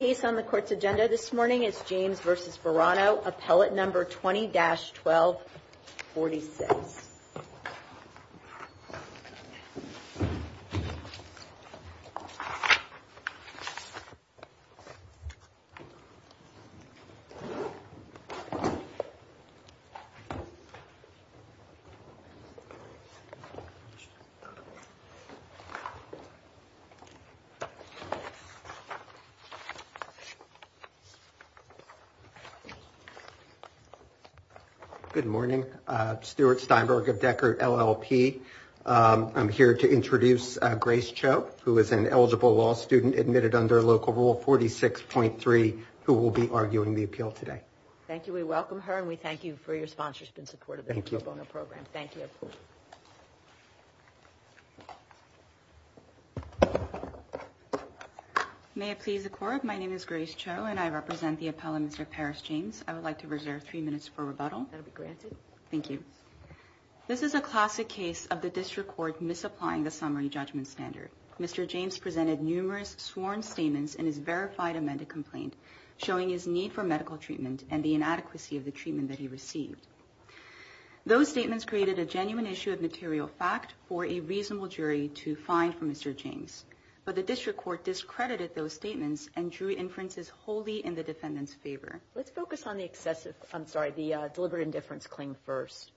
case on the Court's agenda this morning is James v. Varano, Appellate No. 20-1246. Good morning. Stuart Steinberg of Decker LLP. I'm here to introduce Grace Cho, who is an eligible law student admitted under Local Rule 46.3, who will be arguing the appeal today. Thank you. We welcome her and we thank you for your sponsorship and support of the case. May it please the Court, my name is Grace Cho and I represent the appellant, Mr. Paris James. I would like to reserve three minutes for rebuttal. That will be granted. Thank you. This is a classic case of the District Court misapplying the summary judgment standard. Mr. James presented numerous sworn statements in his verified amended complaint, showing his need for medical treatment and the inadequacy of the treatment that he received. Those statements created a genuine issue of material fact for a reasonable jury to find for Mr. James. But the District Court discredited those statements and drew inferences wholly in the defendant's favor. Let's focus on the excessive, I'm sorry, the deliberate indifference claim first.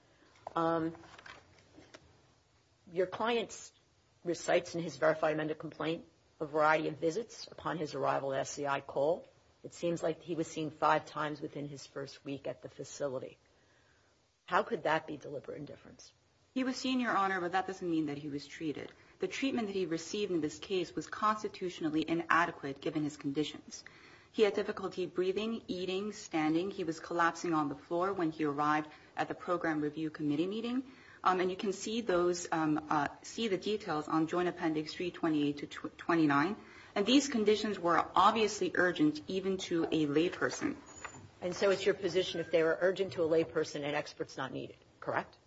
Your client recites in his verified amended complaint a variety of visits upon his arrival at SCI Cole. It seems like he was seen five times within his first week at the facility. How could that be deliberate indifference? He was seen, Your Honor, but that doesn't mean that he was treated. The treatment that he received in this case was constitutionally inadequate given his conditions. He had difficulty breathing, eating, standing. He was collapsing on the floor when he arrived at the Program Review Committee meeting. And you can see those, see the details on Joint Appendix 328 to 29. And these conditions were obviously urgent even to a layperson. And so it's your position if they were urgent to a layperson an expert's not needed, correct?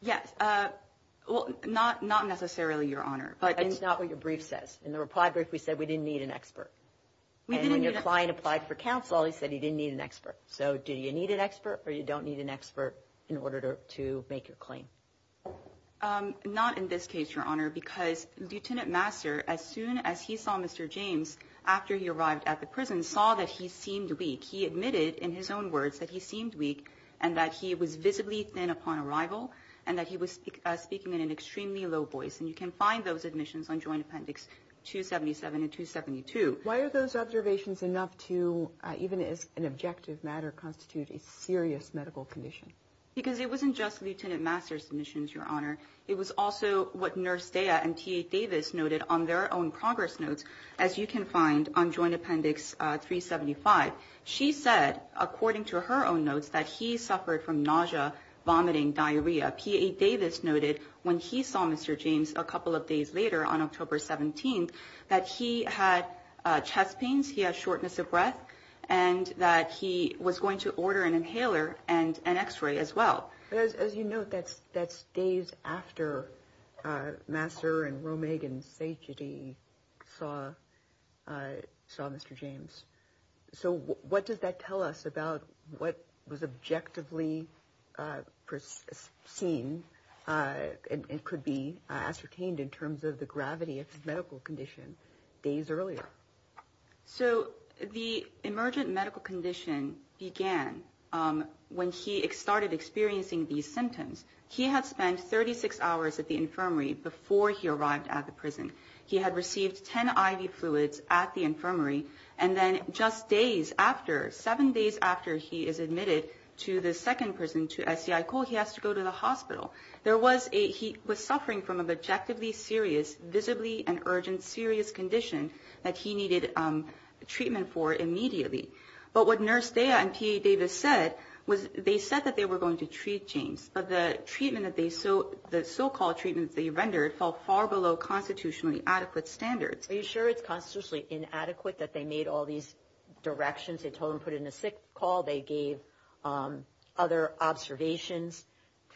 Yes. Well, not necessarily, Your Honor. But it's not what your brief says. In the reply brief, we said we didn't need an expert. And when your client applied for counsel, he said he didn't need an expert. So do you need an expert or you don't need an expert in order to make your claim? Not in this case, Your Honor, because Lieutenant Master, as soon as he saw Mr. James, after he arrived at the prison, saw that he seemed weak and that he was visibly thin upon arrival and that he was speaking in an extremely low voice. And you can find those admissions on Joint Appendix 277 and 272. Why are those observations enough to, even as an objective matter, constitute a serious medical condition? Because it wasn't just Lieutenant Master's submissions, Your Honor. It was also what Nurse Daya and TA Davis noted on their own progress notes, as you can find on Joint Appendix 375. She said, according to her own notes, that he suffered from nausea, vomiting, diarrhea. TA Davis noted when he saw Mr. James a couple of days later, on October 17th, that he had chest pains, he had shortness of breath, and that he was going to order an inhaler and an x-ray as well. As you note, that's days after Master and Ro-Megan Sageti saw Mr. James. So what does that tell us about what was objectively seen and could be ascertained in terms of the gravity of his medical condition days earlier? So the emergent medical condition began when he started experiencing these symptoms. He had spent 36 hours at the infirmary before he arrived at the prison. He had received 10 IV fluids at the infirmary, and then just days after, seven days after he is admitted to the second prison, to SCI Cole, he has to go to the hospital. He was suffering from a objectively serious, visibly an urgent, serious condition that he needed treatment for immediately. But what Nurse Daya and TA Davis said was they said that they were going to treat James, but the so-called treatment they rendered fell far below constitutionally adequate standards. Are you sure it's constitutionally inadequate that they made all these directions? They told him to put in a sick call, they gave other observations,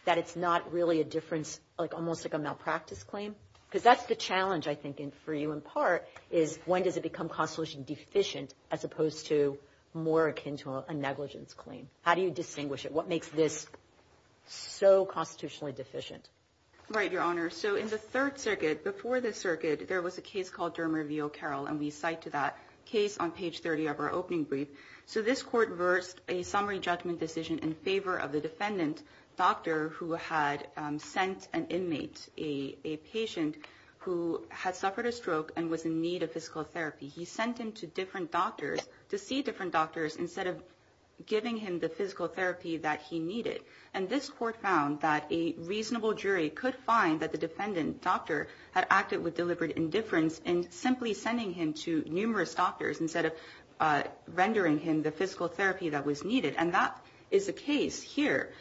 that it's not really a difference, almost like a malpractice claim? Because that's the challenge, I think, for you in part, is when does it become constitutionally deficient as opposed to more akin to a negligence claim? How do you distinguish it? What makes this so constitutionally deficient? Right, Your Honor. So in the third circuit, before the circuit, there was a case called Dermer v. O'Carroll, and we cite to that case on page 30 of our opening brief. So this court versed a summary judgment decision in favor of the defendant doctor who had sent an inmate, a patient who had suffered a stroke and was in need of physical therapy. He sent him to different doctors to see different doctors instead of giving him the physical therapy that he needed. And this court found that a reasonable jury could find that the defendant doctor had acted with deliberate indifference in simply sending him to numerous doctors instead of rendering him the physical therapy that was needed. And that is the case here.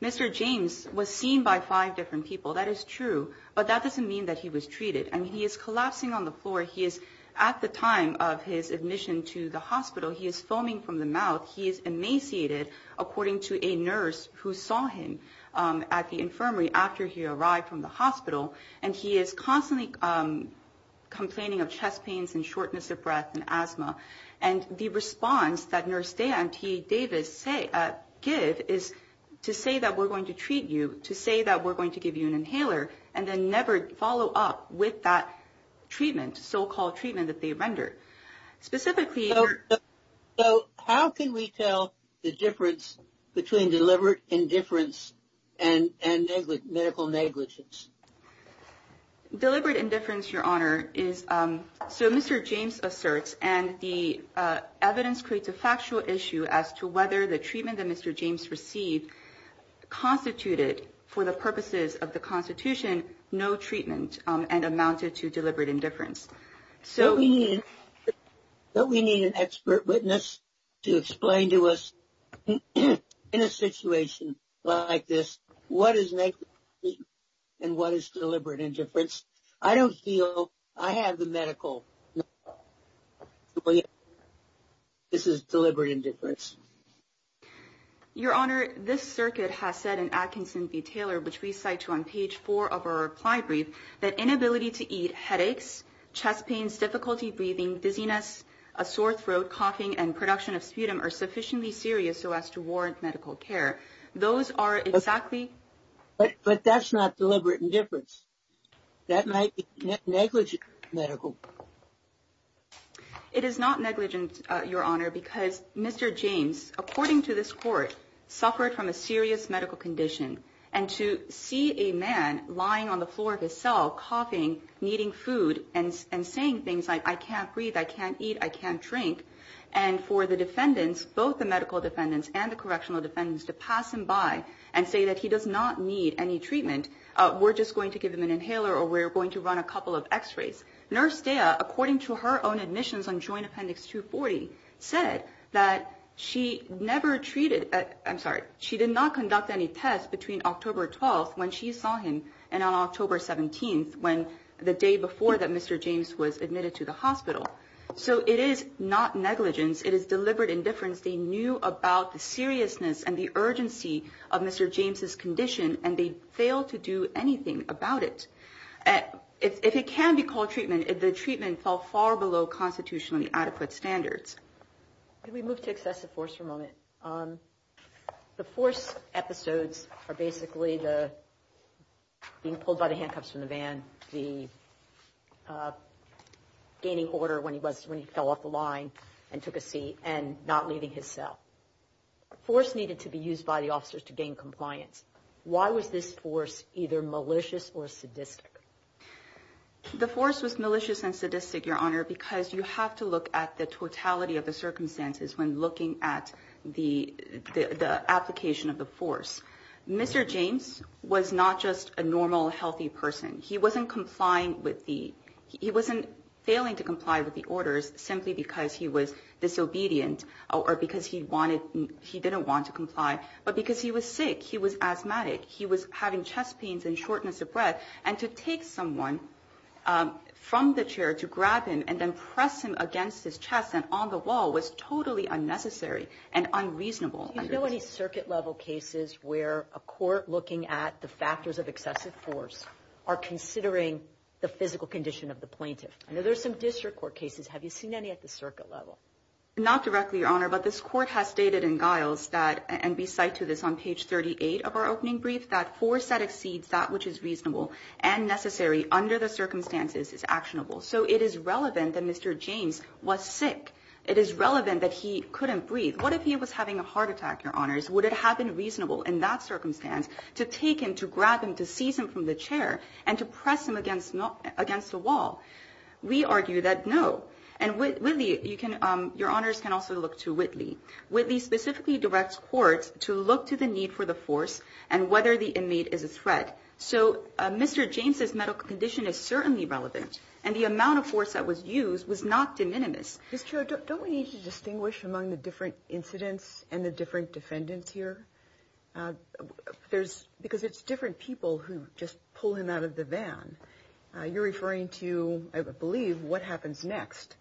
Mr. James was seen by five different people, that is true, but that doesn't mean that he was treated. And he is collapsing on the floor. He is, at the time of his admission to the hospital, he is foaming from the mouth. He is emaciated, according to a nurse who saw him at the infirmary after he arrived from the hospital. And he is constantly complaining of chest pains and shortness of breath and asthma. And the response that Nurse Dan T. Davis give is to say that we're going to treat you, to say that we're going to give you an up with that treatment, so-called treatment that they rendered. Specifically... So how can we tell the difference between deliberate indifference and medical negligence? Deliberate indifference, Your Honor, is, so Mr. James asserts, and the evidence creates a factual issue as to whether the treatment that Mr. James received constituted, for the and amounted to deliberate indifference. Don't we need an expert witness to explain to us, in a situation like this, what is negligence and what is deliberate indifference? I don't feel I have the medical... This is deliberate indifference. Your Honor, this circuit has said in Atkinson v. Taylor, which we cite on page four of our ply brief, that inability to eat, headaches, chest pains, difficulty breathing, dizziness, a sore throat, coughing, and production of sputum are sufficiently serious so as to warrant medical care. Those are exactly... But that's not deliberate indifference. That might be negligent medical. It is not negligent, Your Honor, because Mr. James, according to this court, suffered from a serious medical condition. And to see a man lying on the floor of his cell coughing, needing food, and saying things like, I can't breathe, I can't eat, I can't drink, and for the defendants, both the medical defendants and the correctional defendants, to pass him by and say that he does not need any treatment, we're just going to give him an inhaler or we're going to run a couple of x-rays. Nurse Daya, according to her own admissions on she never treated, I'm sorry, she did not conduct any tests between October 12th when she saw him and on October 17th, when the day before that Mr. James was admitted to the hospital. So it is not negligence. It is deliberate indifference. They knew about the seriousness and the urgency of Mr. James's condition and they failed to do anything about it. If it can be called treatment, the treatment fell far below constitutionally adequate standards. Can we move to excessive force for a moment? The force episodes are basically the being pulled by the handcuffs from the van, the gaining order when he was when he fell off the line and took a seat, and not leaving his cell. Force needed to be used by the officers to gain compliance. Why was this force either malicious or sadistic? The force was malicious and sadistic, because you have to look at the totality of the circumstances when looking at the application of the force. Mr. James was not just a normal healthy person. He wasn't failing to comply with the orders simply because he was disobedient or because he didn't want to comply, but because he was sick. He was asthmatic. He was having chest pains and shortness of breath and to take someone from the chair to grab him and then press him against his chest and on the wall was totally unnecessary and unreasonable. Do you know any circuit level cases where a court looking at the factors of excessive force are considering the physical condition of the plaintiff? I know there's some district court cases. Have you seen any at the circuit level? Not directly, Your Honor, but this court has stated in Giles that, and be site to this on page 38 of our opening brief, that force that exceeds that which is reasonable and necessary under the circumstances is actionable. So it is relevant that Mr. James was sick. It is relevant that he couldn't breathe. What if he was having a heart attack, Your Honors? Would it have been reasonable in that circumstance to take him, to grab him, to seize him from the chair and to press him against the wall? We argue that no. And Whitley, Your Honors can also look to Whitley. Whitley specifically directs courts to look to the need for the force and whether the inmate is a threat. So Mr. James's medical condition is certainly relevant and the amount of force that was used was not de minimis. Ms. Cho, don't we need to distinguish among the different incidents and the different defendants here? Because it's different people who just pull him out of the van. You're referring to, I believe, what happens next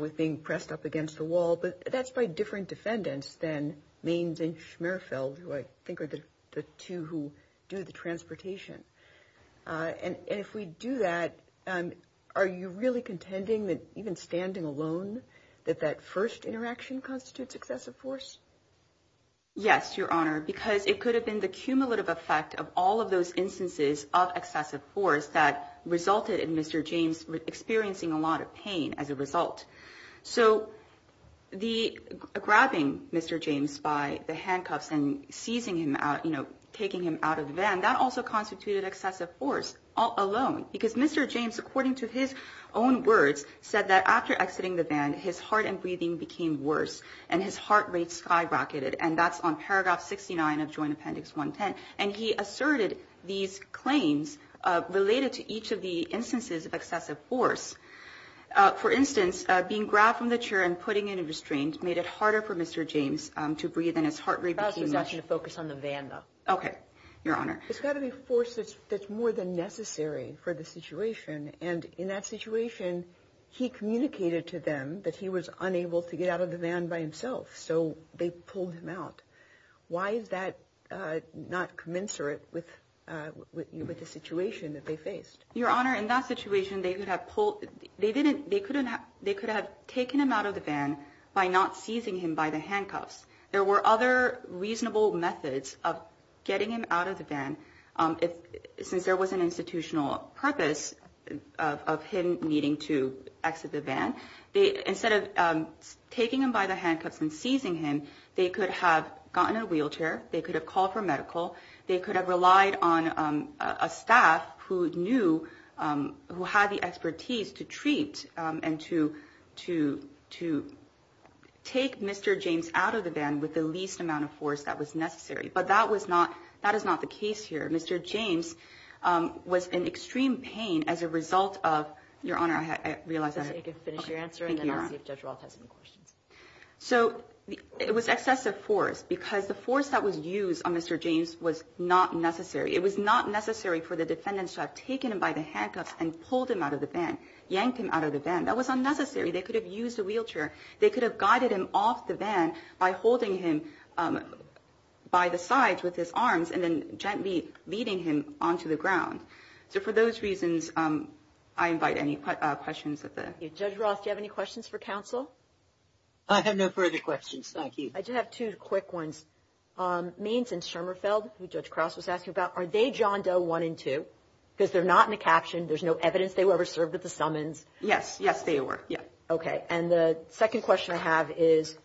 with being pressed up against the wall, but that's by different defendants than Mainz and Schmerfeld, who I think are the two who do the transportation. And if we do that, are you really contending that even standing alone, that that first interaction constitutes excessive force? Yes, Your Honor, because it could have been the cumulative effect of all of those instances of excessive force that resulted in Mr. James experiencing a lot of pain as a result. So the grabbing Mr. James by the handcuffs and seizing him out, taking him out of the van, that also constituted excessive force alone. Because Mr. James, according to his own words, said that after exiting the van, his heart and breathing became worse and his heart rate skyrocketed. And that's on paragraph 69 of Appendix 110. And he asserted these claims related to each of the instances of excessive force. For instance, being grabbed from the chair and putting in a restraint made it harder for Mr. James to breathe and his heart rate became worse. I was just asking to focus on the van, though. Okay, Your Honor. There's got to be force that's more than necessary for the situation. And in that situation, he communicated to them that he was unable to get out of the van by himself. So they pulled him out. Why is that not commensurate with the situation that they faced? Your Honor, in that situation, they could have taken him out of the van by not seizing him by the handcuffs. There were other reasonable methods of getting him out of the van, since there was an institutional purpose of him needing to exit the van. Instead of taking him by the They could have gotten a wheelchair. They could have called for medical. They could have relied on a staff who knew, who had the expertise to treat and to take Mr. James out of the van with the least amount of force that was necessary. But that was not, that is not the case here. Mr. James was in extreme pain as a result of... Your Honor, I realize I... You can finish your answer and then I'll see if Judge Roth has any questions. So it was excessive force because the force that was used on Mr. James was not necessary. It was not necessary for the defendants to have taken him by the handcuffs and pulled him out of the van, yanked him out of the van. That was unnecessary. They could have used a wheelchair. They could have guided him off the van by holding him by the sides with his arms and then gently leading him onto the ground. So for those reasons, I invite any questions at the... Judge Roth, do you have any questions for counsel? I have no further questions. Thank you. I do have two quick ones. Means and Schermerfeld, who Judge Krause was asking about, are they John Doe one and two? Because they're not in the caption. There's no evidence they were ever served at the summons. Yes. Yes, they were. Yeah. Okay. And the second question I have is,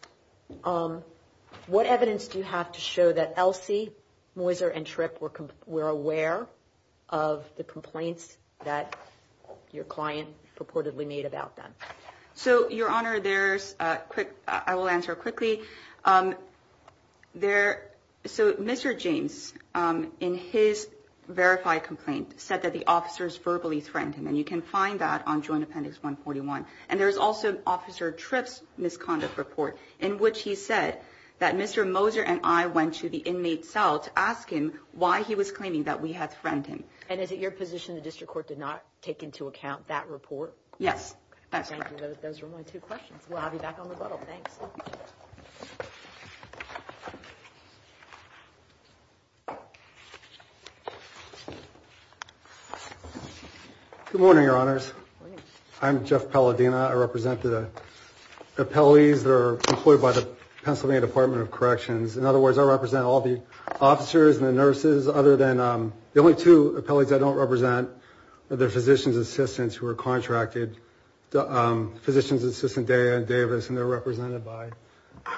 what evidence do you have to show that Elsie, Moser and Tripp were aware of the complaints that your client purportedly made about them? So, Your Honor, there's a quick... I will answer quickly. So Mr. James, in his verified complaint, said that the officers verbally threatened him. And you can find that on Joint Appendix 141. And there's also Officer Tripp's misconduct report in which he said that Mr. Moser and I went to the inmate cell to ask him why he was claiming that we had threatened him. And is it your position the district court did not take into account that report? Yes. That's correct. Those were my two questions. We'll have you back on the button. Thanks. Good morning, Your Honors. I'm Jeff Palladino. I represent the appellees that are employed by the Pennsylvania Department of Corrections. In other words, I represent all the officers and the nurses, other than the only two appellees I don't represent are their physician's assistants who are contracted, Physician's Assistant Daya and Davis, and they're represented by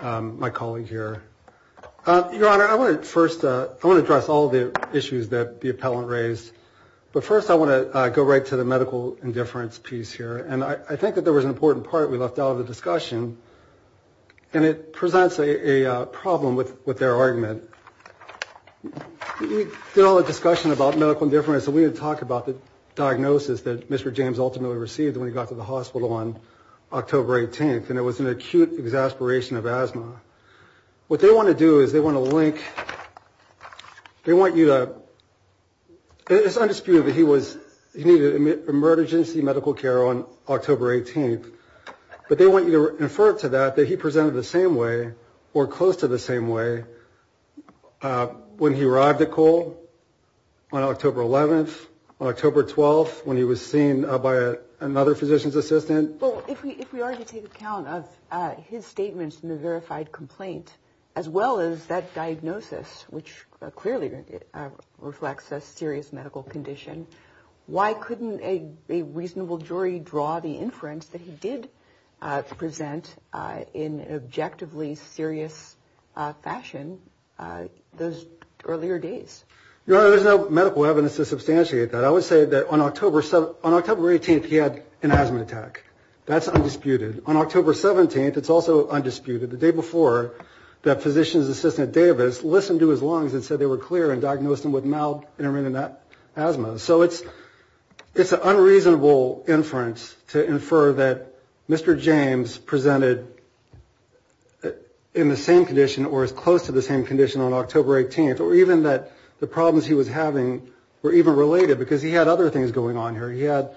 my colleague here. Your Honor, I want to first... I want to address all the issues that the appellant raised. But first, I want to go right to the medical indifference piece here. And I think that there is a problem. And it presents a problem with their argument. We did all the discussion about medical indifference, and we didn't talk about the diagnosis that Mr. James ultimately received when he got to the hospital on October 18th. And it was an acute exasperation of asthma. What they want to do is they want to link... They want you to... It's undisputed that he was... He needed emergency medical care on October 18th. But they want you to infer to that that he presented the same way, or close to the same way, when he arrived at Cole on October 11th, on October 12th, when he was seen by another physician's assistant. Well, if we are to take account of his statements in the verified complaint, as well as that diagnosis, which clearly reflects a serious medical condition, why couldn't a reasonable jury draw the inference that he did present in an objectively serious fashion those earlier days? There's no medical evidence to substantiate that. I would say that on October 18th, he had an asthma attack. That's undisputed. On October 17th, it's also undisputed. The day before, that physician's assistant, Davis, listened to his lungs and said they were clear and it's an unreasonable inference to infer that Mr. James presented in the same condition, or as close to the same condition, on October 18th, or even that the problems he was having were even related, because he had other things going on here. He had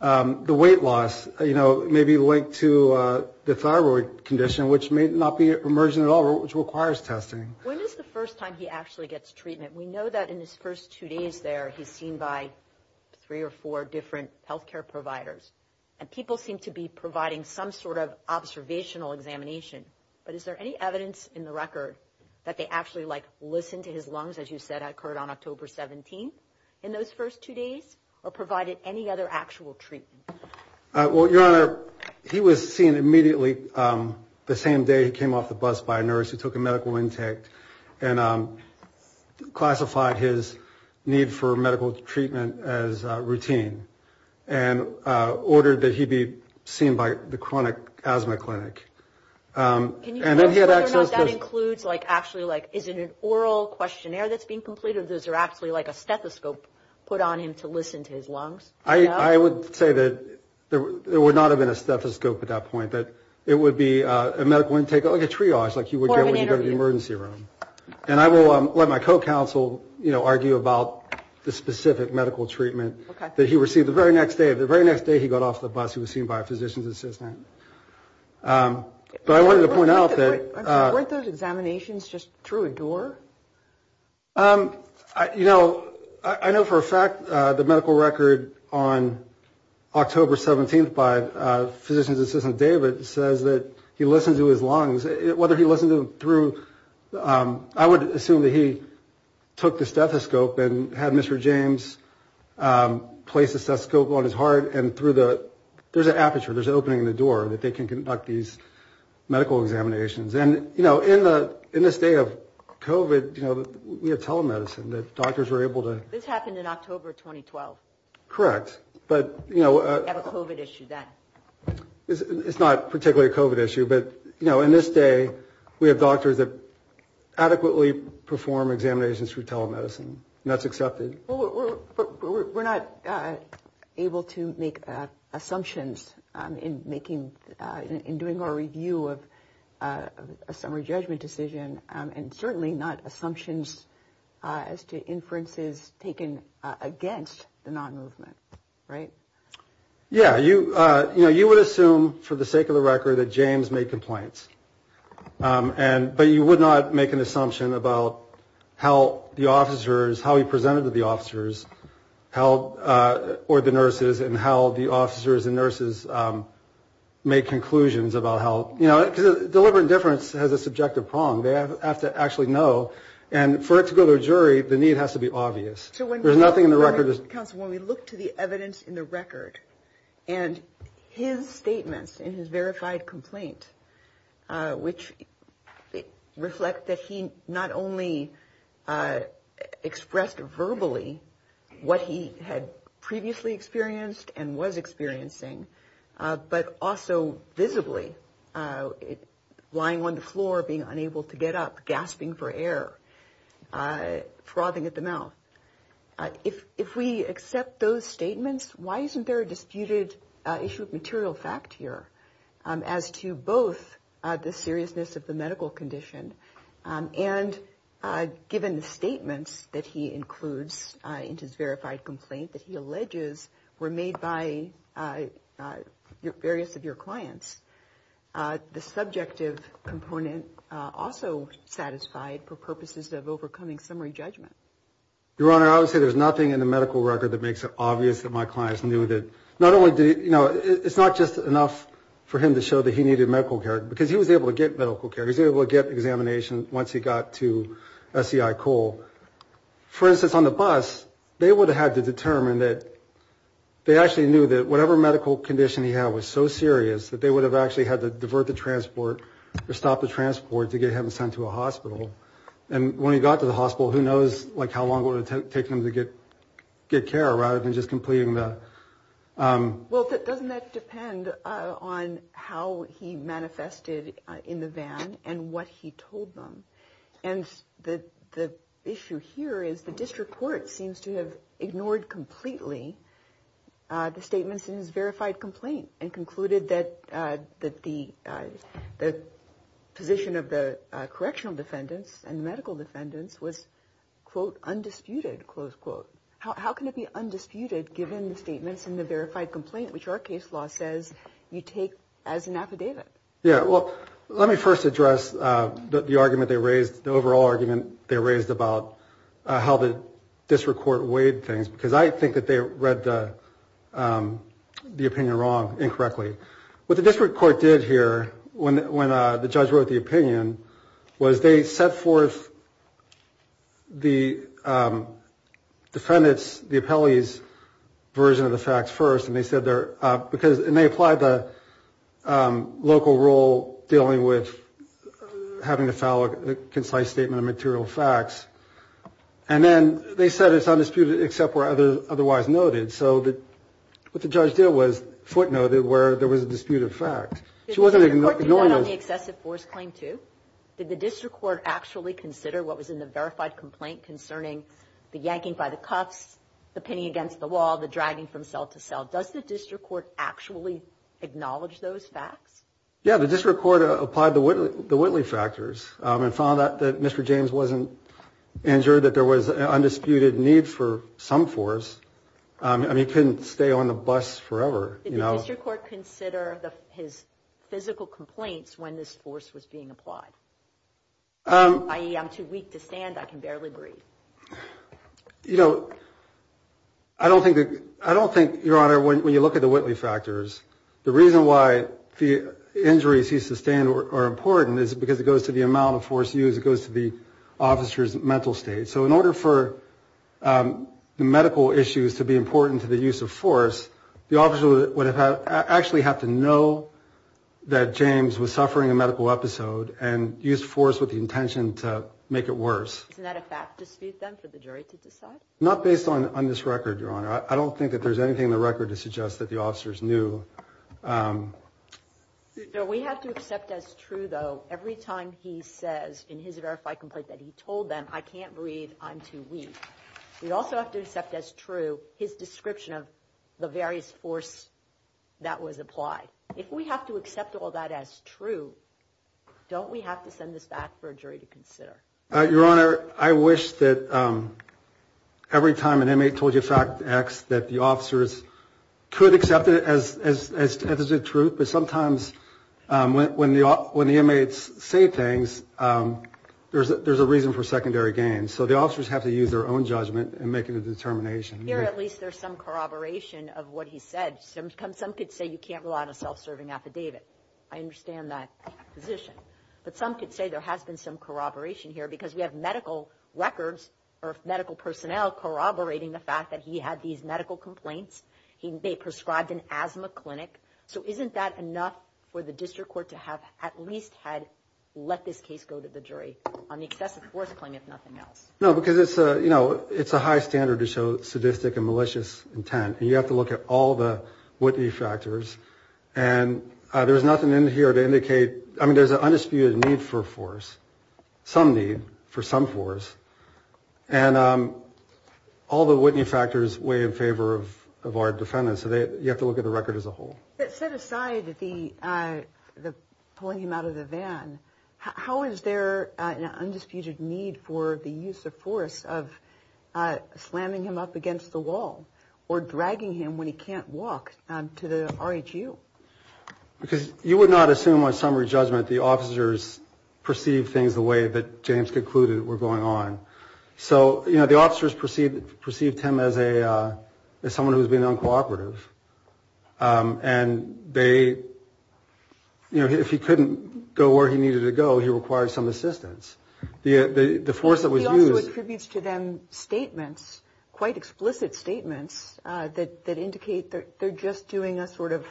the weight loss, you know, maybe linked to the thyroid condition, which may not be emergent at all, which requires testing. When is the first time he actually gets treatment? We know that in his first two days there, he's seen by three or four different health care providers, and people seem to be providing some sort of observational examination, but is there any evidence in the record that they actually, like, listened to his lungs, as you said, occurred on October 17th in those first two days, or provided any other actual treatment? Well, Your Honor, he was seen immediately the same day he came off the and classified his need for medical treatment as routine, and ordered that he be seen by the chronic asthma clinic. Can you tell us whether or not that includes, like, actually, like, is it an oral questionnaire that's being completed, or is there actually, like, a stethoscope put on him to listen to his lungs? I would say that there would not have been a stethoscope at that point, that it would be a medical intake, like a triage, like you would get when you go to the emergency room. And I will let my co-counsel, you know, argue about the specific medical treatment that he received the very next day. The very next day he got off the bus, he was seen by a physician's assistant. But I wanted to point out that... Weren't those examinations just through a door? You know, I know for a fact the medical record on October 17th by a physician's assistant, David, says that he listened to his lungs, whether he listened to them through... I would assume that he took the stethoscope and had Mr. James place the stethoscope on his heart, and through the... There's an aperture, there's an opening in the door that they can conduct these medical examinations. And, you know, in this day of COVID, you know, we have telemedicine that doctors are able to... This happened in October 2012. Correct. But, you know... We have a COVID issue then. It's not particularly a COVID issue, but, you know, in this day, we have doctors that adequately perform examinations through telemedicine, and that's accepted. Well, we're not able to make assumptions in doing our review of a summary judgment decision, and certainly not assumptions as to inferences taken against the non-movement, right? Yeah. You know, you would assume, for the sake of the record, that James made complaints. And... But you would not make an assumption about how the officers, how he presented to the officers, how... Or the nurses, and how the officers and nurses make conclusions about how... You know, deliberate indifference has a subjective prong. They have to actually know, and for it to go to a jury, the need has to be obvious. There's nothing in the record... Counsel, when we look to the evidence in the record, and his statements in his verified complaint, which reflect that he not only expressed verbally what he had previously experienced and was experiencing, but also visibly lying on the floor, being unable to get up, gasping for air, frothing at the mouth. If we accept those statements, why isn't there a disputed issue of material fact here, as to both the seriousness of the medical condition, and given the statements that he includes in his verified complaint that he alleges were made by various of your clients, the subjective component also satisfied for purposes of overcoming summary judgment? Your Honor, I would say there's nothing in it. It's not just enough for him to show that he needed medical care, because he was able to get medical care. He was able to get examination once he got to SEI Cole. For instance, on the bus, they would have had to determine that... They actually knew that whatever medical condition he had was so serious, that they would have actually had to divert the transport, or stop the transport, to get him sent to a hospital. And when he got to the hospital, who knows how long it would have taken him to get care, rather than just completing the... Well, doesn't that depend on how he manifested in the van, and what he told them? And the issue here is, the district court seems to have ignored completely the statements in his verified complaint, and concluded that the position of the correctional defendants and medical defendants was undisputed. How can it be undisputed, given the statements in the verified complaint, which our case law says you take as an affidavit? Yeah, well, let me first address the argument they raised, the overall argument they raised about how the district court weighed things, because I think that they read the opinion wrong, incorrectly. What the district court did here, when the judge wrote the opinion, was they set forth the defendant's, the appellee's, version of the facts first, and they said they're... And they applied the local rule dealing with having to file a concise statement of material facts, and then they said it's undisputed, except where otherwise noted. So what the judge did was footnote it where there was a disputed fact. She wasn't ignoring... Did the district court do that on the excessive force claim too? Did the district court actually consider what was in the verified complaint concerning the yanking by the cuffs, the pinning against the wall, the dragging from cell to cell? Does the district court actually acknowledge those facts? Yeah, the district court applied the Whitley factors, and found that Mr. James wasn't injured, that there was an undisputed need for some force. I mean, he couldn't stay on the bus forever. Did the district court consider his physical complaints when this force was being applied? I.e., I'm too weak to stand, I can barely breathe. You know, I don't think that... I don't think, Your Honor, when you look at the Whitley factors, the reason why the injuries he sustained are important is because it goes to the amount of use, it goes to the officer's mental state. So in order for the medical issues to be important to the use of force, the officer would actually have to know that James was suffering a medical episode and use force with the intention to make it worse. Isn't that a fact dispute then for the jury to decide? Not based on this record, Your Honor. I don't think that there's anything in the record to suggest that the officers knew. We have to accept as true though, every time he says in his verified complaint that he told them, I can't breathe, I'm too weak. We also have to accept as true his description of the various force that was applied. If we have to accept all that as true, don't we have to send this back for a jury to consider? Your Honor, I wish that every time an inmate told you fact X, that the officers could accept it as the truth. But there's a reason for secondary gain. So the officers have to use their own judgment and make a determination. Here at least there's some corroboration of what he said. Some could say you can't rely on a self-serving affidavit. I understand that position. But some could say there has been some corroboration here because we have medical records or medical personnel corroborating the fact that he had these medical complaints. They prescribed an asthma clinic. So had let this case go to the jury on the excessive force claim, if nothing else. No, because it's a, you know, it's a high standard to show sadistic and malicious intent. And you have to look at all the Whitney factors and there was nothing in here to indicate, I mean, there's an undisputed need for force, some need for some force and all the Whitney factors weigh in favor of, of our defendants. So they, you have to look at the record as a whole. Set aside the, the pulling him out of the van, how is there an undisputed need for the use of force of slamming him up against the wall or dragging him when he can't walk to the RHU? Because you would not assume on summary judgment the officers perceived things the way that James concluded were going on. So, you know, the officers perceived, perceived him as a, as someone who's been uncooperative. And they, you know, if he couldn't go where he needed to go, he required some assistance. The force that was used. He also attributes to them statements, quite explicit statements that indicate that they're just doing a sort of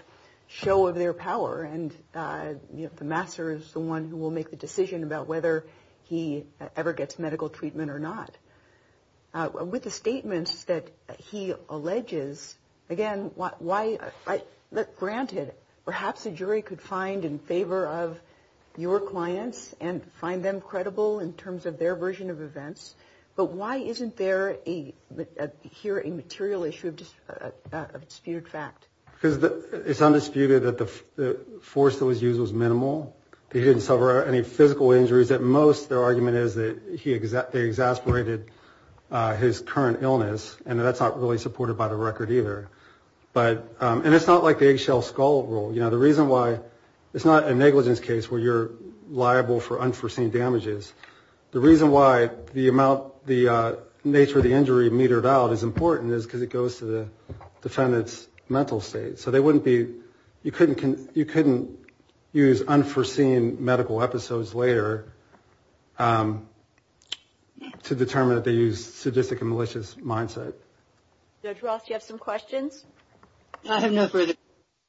show of their power. And the master is the one who will make the decision about whether he ever gets medical treatment or not. With the statements that he alleges, again, why, granted, perhaps a jury could find in favor of your clients and find them credible in terms of their version of events. But why isn't there a, here a material issue of disputed fact? Because it's undisputed that the force that was used was minimal. He didn't suffer any physical injuries. At most, their argument is that he, they exasperated his current illness. And that's not really supported by the record either. But, and it's not like the eggshell skull rule. You know, the reason why it's not a negligence case where you're liable for unforeseen damages. The reason why the amount, the nature of the injury metered out is important is because it goes to the defendant's mental state. So they wouldn't be, you couldn't, you couldn't use unforeseen medical episodes later to determine that they used sadistic and malicious mindset. Judge Ross, do you have some questions? I have no further.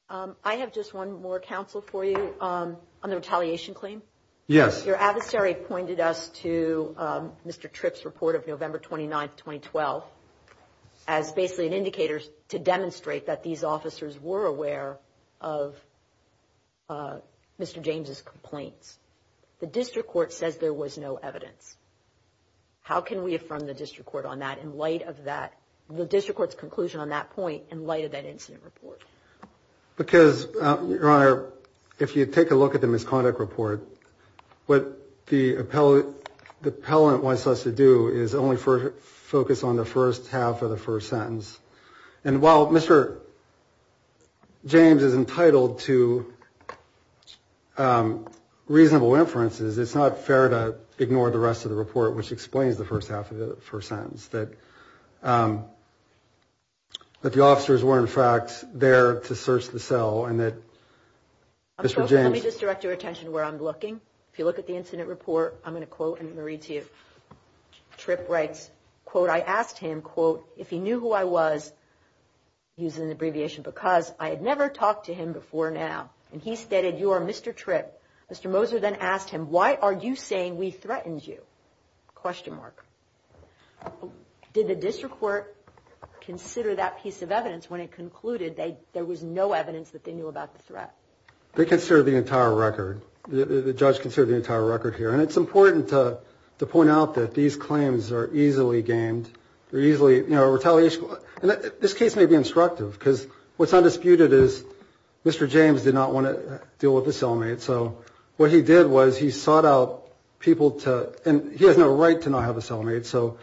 I have just one more counsel for you on the retaliation claim. Yes. Your adversary pointed us to Mr. Tripp's report of November 29, 2012, as basically an indicator to demonstrate that these officers were aware of Mr. James's complaints. The district court says there was no evidence. How can we affirm the district court on that in light of that, the district court's conclusion on that point in light of that incident report? Because, Your Honor, if you take a look at the misconduct report, what the appellate, wants us to do is only focus on the first half of the first sentence. And while Mr. James is entitled to reasonable inferences, it's not fair to ignore the rest of the report, which explains the first half of the first sentence, that the officers were, in fact, there to search the cell and that Mr. James... Let me just direct your attention to where I'm looking. If you look at the incident report, I'm going to quote and then read to you. Tripp writes, quote, I asked him, quote, if he knew who I was, use an abbreviation, because I had never talked to him before now. And he stated, you are Mr. Tripp. Mr. Moser then asked him, why are you saying we threatened you? Question mark. Did the district court consider that piece of evidence when it concluded there was no evidence that they knew about the threat? They considered the entire record. The judge considered the entire record here. And it's important to point out that these claims are easily gamed. They're easily retaliation. And this case may be instructive because what's undisputed is Mr. James did not want to deal with the cellmate. So what he did was he sought out people to and he has no right to not have a cellmate. So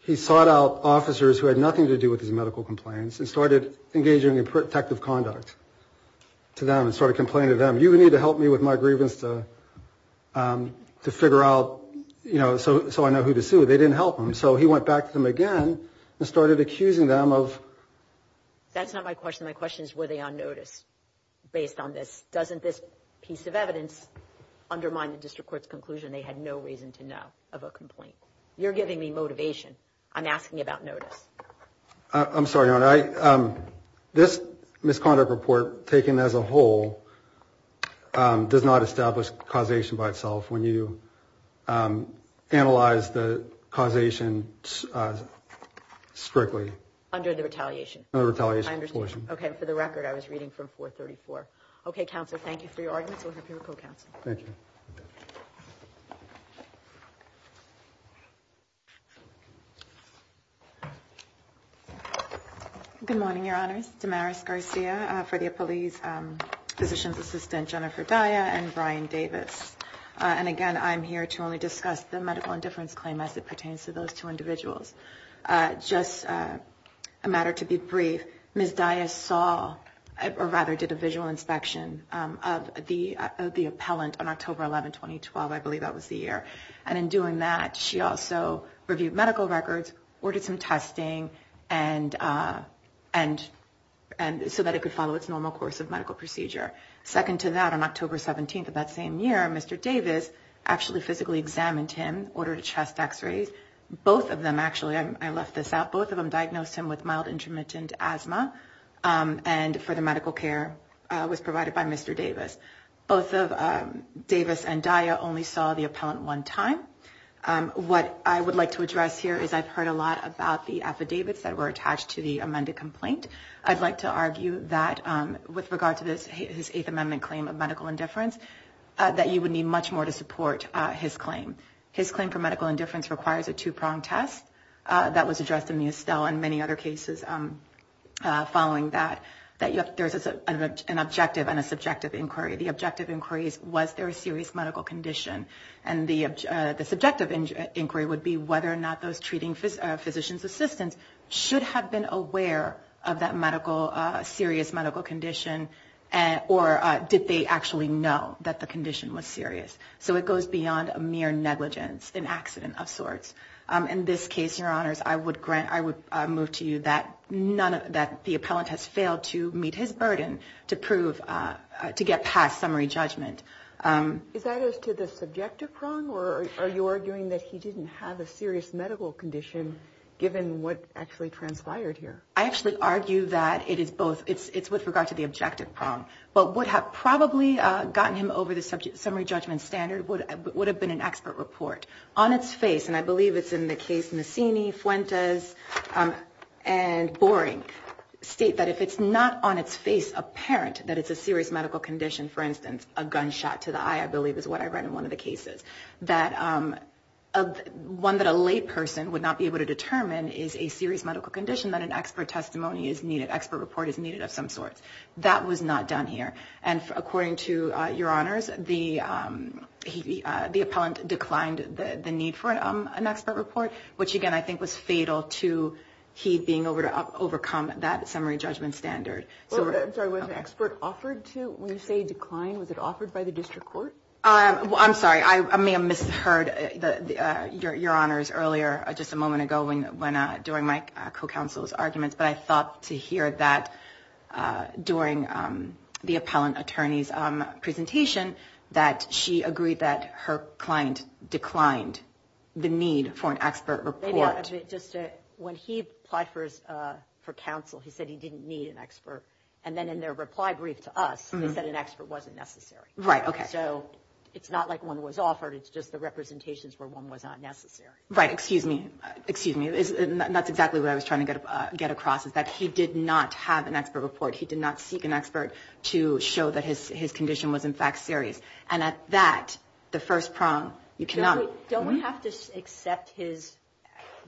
he sought out officers who had nothing to do with his medical complaints and engaged in protective conduct to them and started complaining to them. You need to help me with my grievance to figure out, you know, so I know who to sue. They didn't help him. So he went back to them again and started accusing them of. That's not my question. My question is, were they on notice based on this? Doesn't this piece of evidence undermine the district court's conclusion they had no reason to know of a complaint? You're giving me motivation. I'm asking about notice. I'm sorry. This misconduct report taken as a whole does not establish causation by itself when you analyze the causation strictly. Under the retaliation. Under the retaliation portion. Okay. For the record, I was reading from 434. Okay. Counselor, thank you for your arguments. Thank you. Good morning, Your Honors. Damaris Garcia, Fredia Police Physician's Assistant Jennifer Daya and Brian Davis. And again, I'm here to only discuss the medical indifference claim as it pertains to those two individuals. Just a matter to be brief, Ms. Daya saw or rather did a visual inspection of the appellant on October 11, 2012. I believe that was the year. And in doing that, she also reviewed medical records, ordered some testing and so that it could follow its normal course of medical procedure. Second to that, on October 17th of that same year, Mr. Davis actually physically examined him, ordered chest x-rays. Both of them actually, I left this out, both of them diagnosed him with mild intermittent asthma. And for the medical care was provided by Mr. Davis. Both of Davis and Daya only saw the appellant one time. What I would like to address here is I've heard a lot about the affidavits that were attached to the amended complaint. I'd like to argue that with regard to this, his Eighth Amendment claim of medical indifference, that you would need much more to support his claim. His claim for medical indifference requires a two-pronged test that was addressed in the Estelle and many other cases following that, that there's an objective and a subjective inquiry. The objective inquiry is was there a serious medical condition? And the subjective inquiry would be whether or not those treating physician's assistants should have been aware of that medical, serious medical condition or did they actually know that the condition was serious? So it goes beyond a mere negligence, an accident of sorts. In this case, your honors, I would grant, I would move to you that none of that the appellant has failed to meet his burden to prove, to get past summary judgment. Is that as to the subjective prong or are you arguing that he didn't have a serious medical condition given what actually transpired here? I actually argue that it is both, it's with regard to the objective prong, but would have probably gotten him over the subject summary judgment standard would have been an expert report. On its face, and I believe it's in the case Messini, Fuentes, and Boring, state that if it's not on its face apparent that it's a serious medical condition, for instance, a gunshot to the eye, I believe is what I read in one of the cases, that one that a lay person would not be able to determine is a serious medical condition that an expert testimony is needed, expert report is needed of some sorts. That was not done here. And according to your the appellant declined the need for an expert report, which again I think was fatal to he being able to overcome that summary judgment standard. I'm sorry, was an expert offered to when you say decline, was it offered by the district court? I'm sorry, I may have misheard your honors earlier, just a moment ago when during my co-counsel's arguments, but I thought to hear that during the appellant attorney's presentation that she agreed that her client declined the need for an expert report. When he applied for counsel, he said he didn't need an expert, and then in their reply brief to us, they said an expert wasn't necessary. Right, okay. So it's not like one was offered, it's just the representations where one was not necessary. Right, excuse me, excuse me. That's exactly what I was trying to get across, is that he did not have an expert report. He did not seek an expert to show that his condition was in fact serious. And at that, the first prong, you cannot... Don't we have to accept his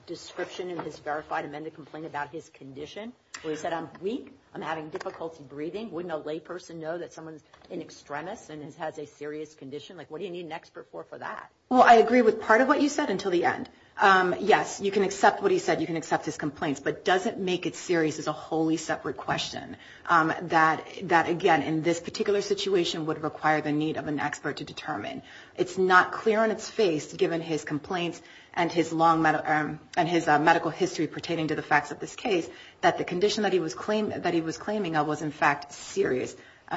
description and his verified amended complaint about his condition, where he said I'm weak, I'm having difficulty breathing? Wouldn't a lay person know that someone's an extremist and has a serious condition? Like what do you need an expert for for that? Well, I agree with part of what you said until the end. Yes, you can accept what he said, you can accept his complaints, but does it make it serious is a wholly separate question. That again, in this particular situation would require the need of an expert to determine. It's not clear on its face, given his complaints and his long medical history pertaining to the facts of this case, that the condition that he was claiming of was in fact serious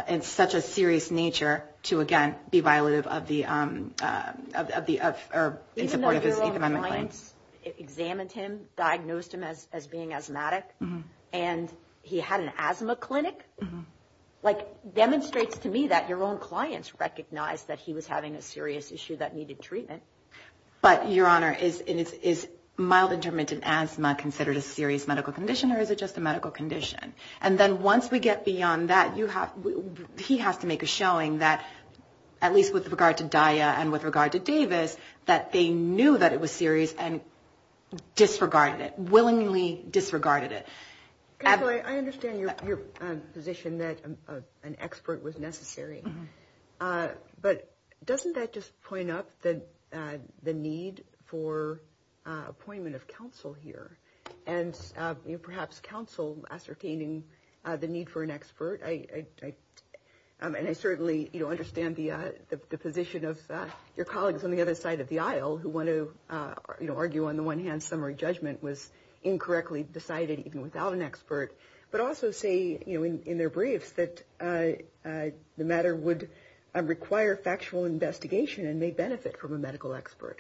in such a serious nature to again, be violative of the, of the... Even though your own clients examined him, diagnosed him as being asthmatic, and he had an asthma clinic, like demonstrates to me that your own clients recognized that he was having a serious issue that needed treatment. But your honor, is mild intermittent asthma considered a serious medical condition or is it just a medical condition? And then once we get beyond that, you have, he has to make a showing that at least with regard to Daya and with regard to Davis, that they knew that it was serious and disregarded it, willingly disregarded it. I understand your position that an expert was necessary. But doesn't that just point up that the need for appointment of counsel here? And perhaps counsel ascertaining the need for an expert. I, and I certainly, you know, understand the position of your colleagues on the other side of the aisle who want to, you know, argue on the one hand summary judgment was incorrectly decided even without an expert, but also say, you know, in their briefs that the matter would require factual investigation and may benefit from a medical expert.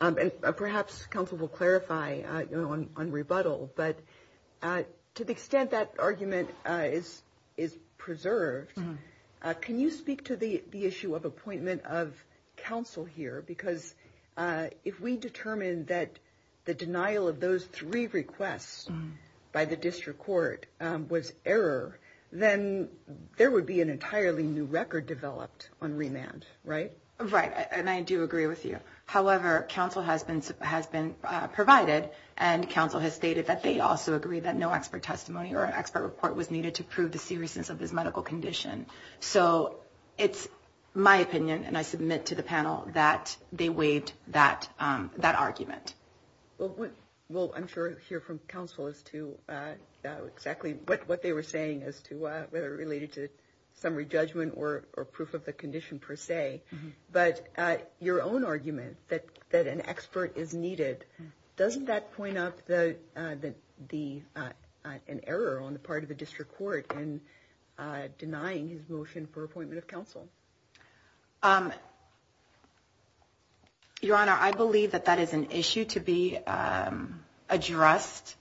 And perhaps counsel will clarify, you know, on, on rebuttal, but to the extent that argument is, is preserved, can you speak to the, the issue of appointment of counsel here? Because if we determined that the denial of those three requests by the district court was error, then there would be an entirely new record developed on remand, right? Right. And I do agree with you. However, counsel has been, has been provided and counsel has stated that they also agree that no expert testimony or expert report was needed to prove the seriousness of this medical condition. So it's my opinion, and I submit to the panel that they waived that, that argument. Well, we'll, I'm sure hear from counsel as to exactly what, what they were saying as to whether it related to summary judgment or, or proof of the condition per se, but your own argument that, that an expert is needed, doesn't that point up the, the, the, an error on the part of the district court in denying his motion for appointment of counsel? Your Honor, I believe that that is an issue to be addressed.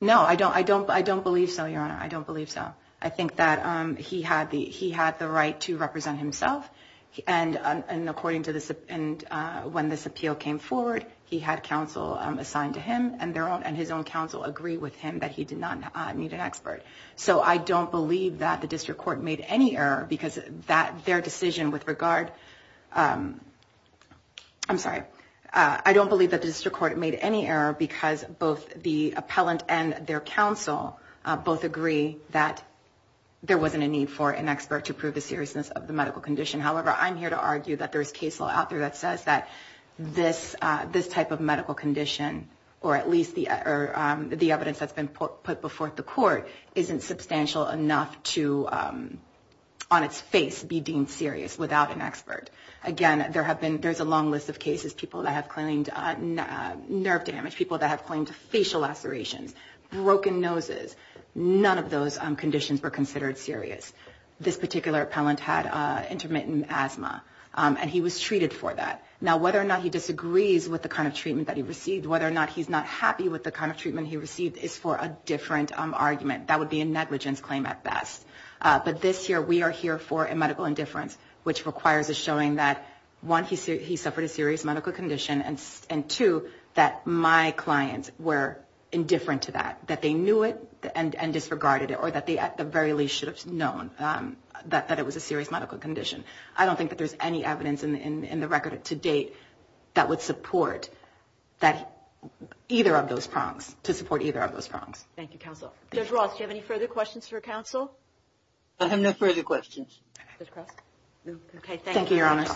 No, I don't, I don't, I don't believe so, Your Honor. I don't believe so. I think that he had the, he had the right to represent himself and, and according to this, and when this appeal came forward, he had counsel assigned to him and their own, and his own counsel agree with him that he did not need an expert. So I don't believe that the district court made any error because that, their decision with regard, I'm sorry, I don't believe that the district court made any error because both the appellant and their counsel both agree that there wasn't a need for an expert to prove the seriousness of the medical condition. However, I'm here to argue that there is case law out there that says that this, this type of medical condition, or at least the, or the evidence that's been put, put before the court isn't substantial enough to, on its face, be deemed serious without an expert. Again, there have been, there's a long list of cases, people that have claimed nerve damage, people that have claimed facial lacerations, broken noses. None of those conditions were considered serious. This particular appellant had intermittent asthma and he was treated for that. Now, whether or not he disagrees with the kind of treatment that he received, whether or not he's not happy with the kind of treatment he received is for a different argument. That would be a negligence claim at best. But this year, we are here for a medical indifference, which requires a showing that, one, he suffered a serious medical condition, and two, that my clients were indifferent to that, that they knew it and disregarded it, or that they, at the very least, should have known that it was a serious medical condition. I don't think that there's any evidence in the record to date that would support that, either of those prongs, to support either of those prongs. Thank you, counsel. Judge Roth, do you have any further questions for counsel? I have no further questions. Judge Cross? Okay, thank you, Your Honors.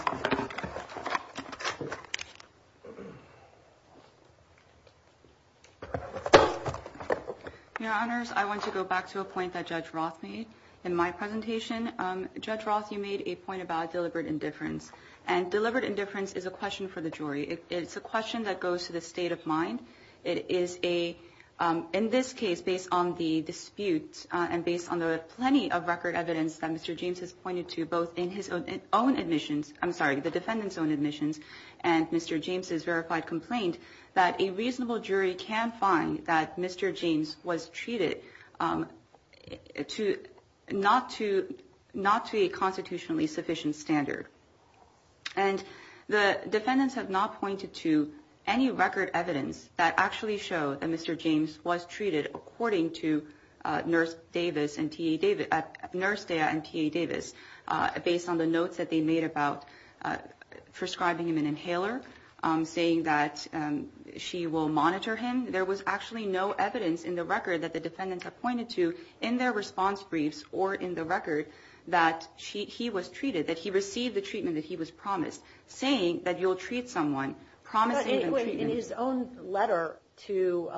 Your Honors, I want to go back to a point that Judge Roth made in my presentation. Judge Roth, you made a point about deliberate indifference, and deliberate indifference is a question for the jury. It's a question that goes to the state of mind. It is a, in this case, based on the dispute and based on the plenty of record evidence that Mr. James has pointed to, both in his own admissions, I'm sorry, the defendant's own admissions and Mr. James's verified complaint, that a reasonable jury can find that Mr. James was treated to, not to, not to a constitutionally sufficient standard. And the defendants have not pointed to any record evidence that actually show that Mr. James was treated according to Nurse Davis and T.A. Davis, Nurse Daya and T.A. Davis, based on the notes that they made about prescribing him an inhaler, saying that she will monitor him. There was actually no evidence in the record that the defendants have pointed to in their response briefs or in the record that he was treated, that he received the treatment that he was promised, saying that you'll treat someone, promising them treatment. But anyway, in his own letter to,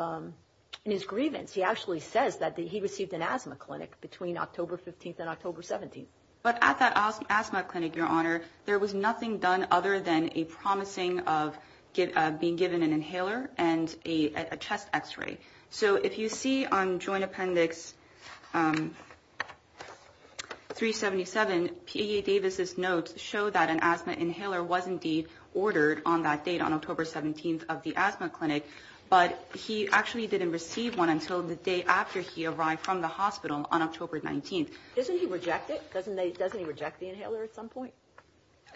in his grievance, he actually says that he received an asthma clinic between October 15th and October 17th. But at that asthma clinic, Your Honor, there was nothing done other than a promising of being given an inhaler and a chest x-ray. So if you see on Joint Appendix 377, T.A. Davis's notes show that an asthma inhaler was indeed ordered on that date, on October 17th of the asthma clinic, but he actually didn't receive one until the day after he arrived from the hospital on October 19th. Doesn't he reject it? Doesn't he reject the inhaler at some point?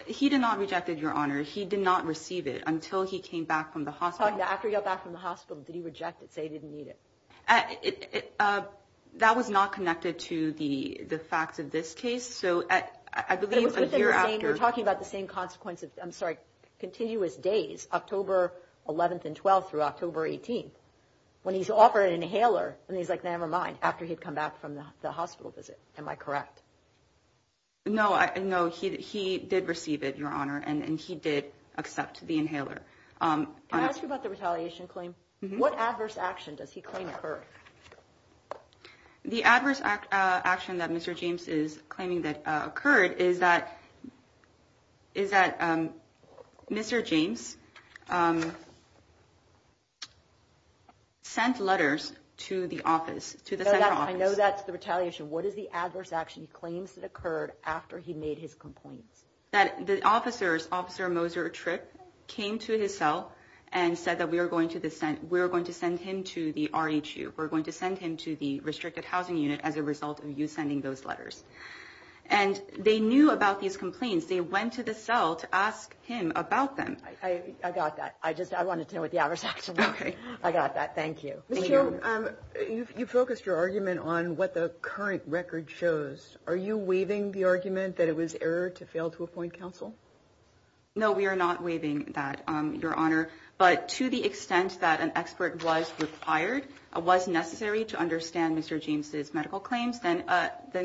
He did not reject it, Your Honor. He did not receive it until he came back from the hospital. After he got back from the hospital, did he reject it, say he didn't need it? That was not connected to the facts of this case. So I believe a year after... We're talking about the same consequence of, I'm sorry, continuous days, October 11th and 12th through October 18th, when he's offered an inhaler and he's like, never mind, after he'd come back from the hospital visit. Am I correct? No, he did receive it, Your Honor, and he did accept the inhaler. Can I ask you about the retaliation claim? What adverse action does he claim occurred? The adverse action that Mr. James is claiming that occurred is that Mr. James sent letters to the office, to the central office. I know that's the retaliation. What is the adverse action he claims that occurred after he made his complaints? That the officers, Officer Moser Tripp, came to his cell and said that we are going to send him to the RHU. We're going to send him to the restricted housing unit as a result of you sending those letters. And they knew about these complaints. They went to the cell to ask him about them. I got that. I just, I wanted to know what the adverse action was. I got that. Thank you. You focused your argument on what the current record shows. Are you waiving the argument that it was error to fail to appoint counsel? No, we are not waiving that, Your Honor, but to the extent that an expert was required, was necessary to understand Mr. James's medical claims, then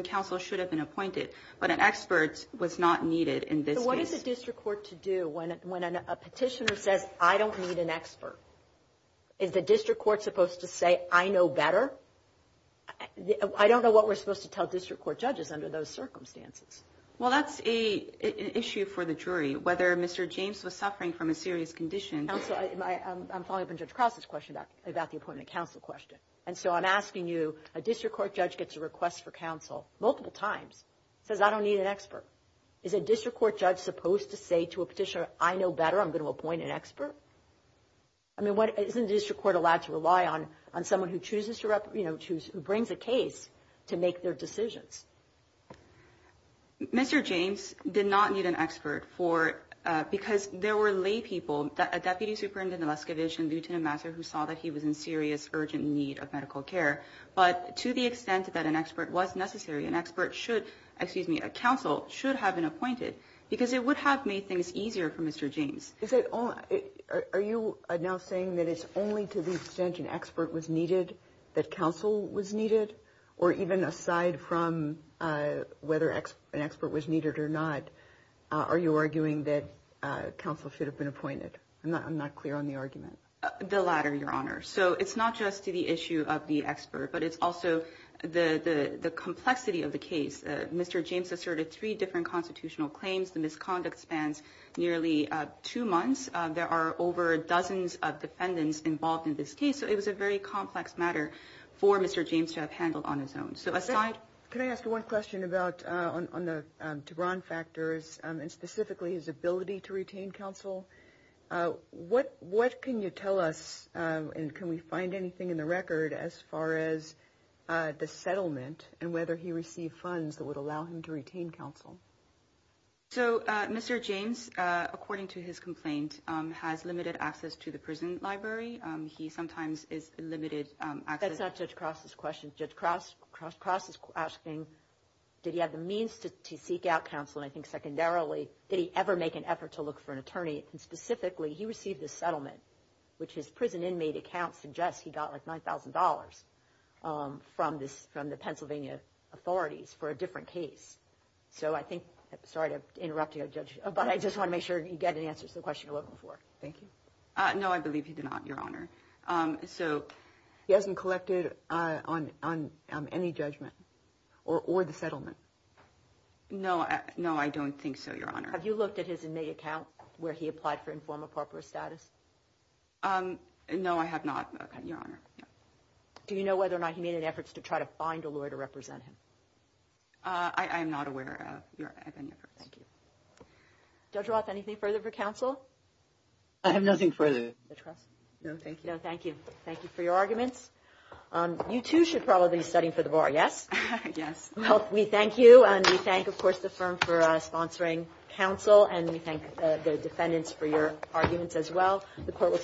counsel should have been appointed. But an expert was not needed in this case. What is the district court to do when a petitioner says, I don't need an expert? Is the district court supposed to say, I know better? I don't know what we're supposed to tell district court judges under those circumstances. Well, that's an issue for the jury. Whether Mr. James was suffering from a serious condition. I'm following up on Judge Krause's question about the appointment of counsel question. And so I'm asking you, a district court judge gets a request for counsel multiple times, says I don't need an expert. Is a district court judge supposed to say to a petitioner, I know better, I'm going to appoint an expert? I mean, isn't the district court allowed to rely on someone who chooses to bring the case to make their decisions? Mr. James did not need an expert for, because there were lay people that a deputy superintendent of the Leskowich and Lieutenant Master, who saw that he was in serious, urgent need of medical care. But to the extent that an expert was necessary, an expert should, excuse me, a counsel should have been appointed because it would have made things easier for Mr. James. Are you now saying that it's only to the extent an expert was needed, that counsel was needed? Or even aside from whether an expert was needed or not, are you arguing that counsel should have been appointed? I'm not clear on the argument. The latter, Your Honor. So it's not just to the issue of the expert, but it's also the complexity of the case. Mr. James asserted three different constitutional claims. The misconduct spans nearly two months. There are over dozens of defendants involved in this case. It was a very complex matter for Mr. James to have handled on his own. Can I ask one question about, on the Tebron factors, and specifically his ability to retain counsel? What can you tell us, and can we find anything in the record as far as the settlement and whether he received funds that would allow him to retain counsel? So Mr. James, according to his complaint, has limited access to the prison library. He sometimes is limited access. That's not Judge Cross's question. Judge Cross is asking, did he have the means to seek out counsel? And I think secondarily, did he ever make an effort to look for an attorney? And specifically, he received a settlement, which his prison inmate account suggests he got like $9,000 from the Pennsylvania authorities for a different case. So I think, sorry to interrupt you, Judge, but I just want to make sure you get answers to the question you're looking for. Thank you. No, I believe he did not, Your Honor. So he hasn't collected on any judgment or the settlement? No, I don't think so, Your Honor. Have you looked at his inmate account where he applied for informal partner status? No, I have not, Your Honor. Do you know whether or not he made an effort to try to find a lawyer to represent him? I am not aware of any efforts. Thank you. Judge Roth, anything further for counsel? I have nothing further. Judge Cross? No, thank you. No, thank you. Thank you for your arguments. You two should probably be studying for the bar, yes? Yes. Well, we thank you, and we thank, of course, the firm for sponsoring counsel, and we thank the defendants for your arguments as well.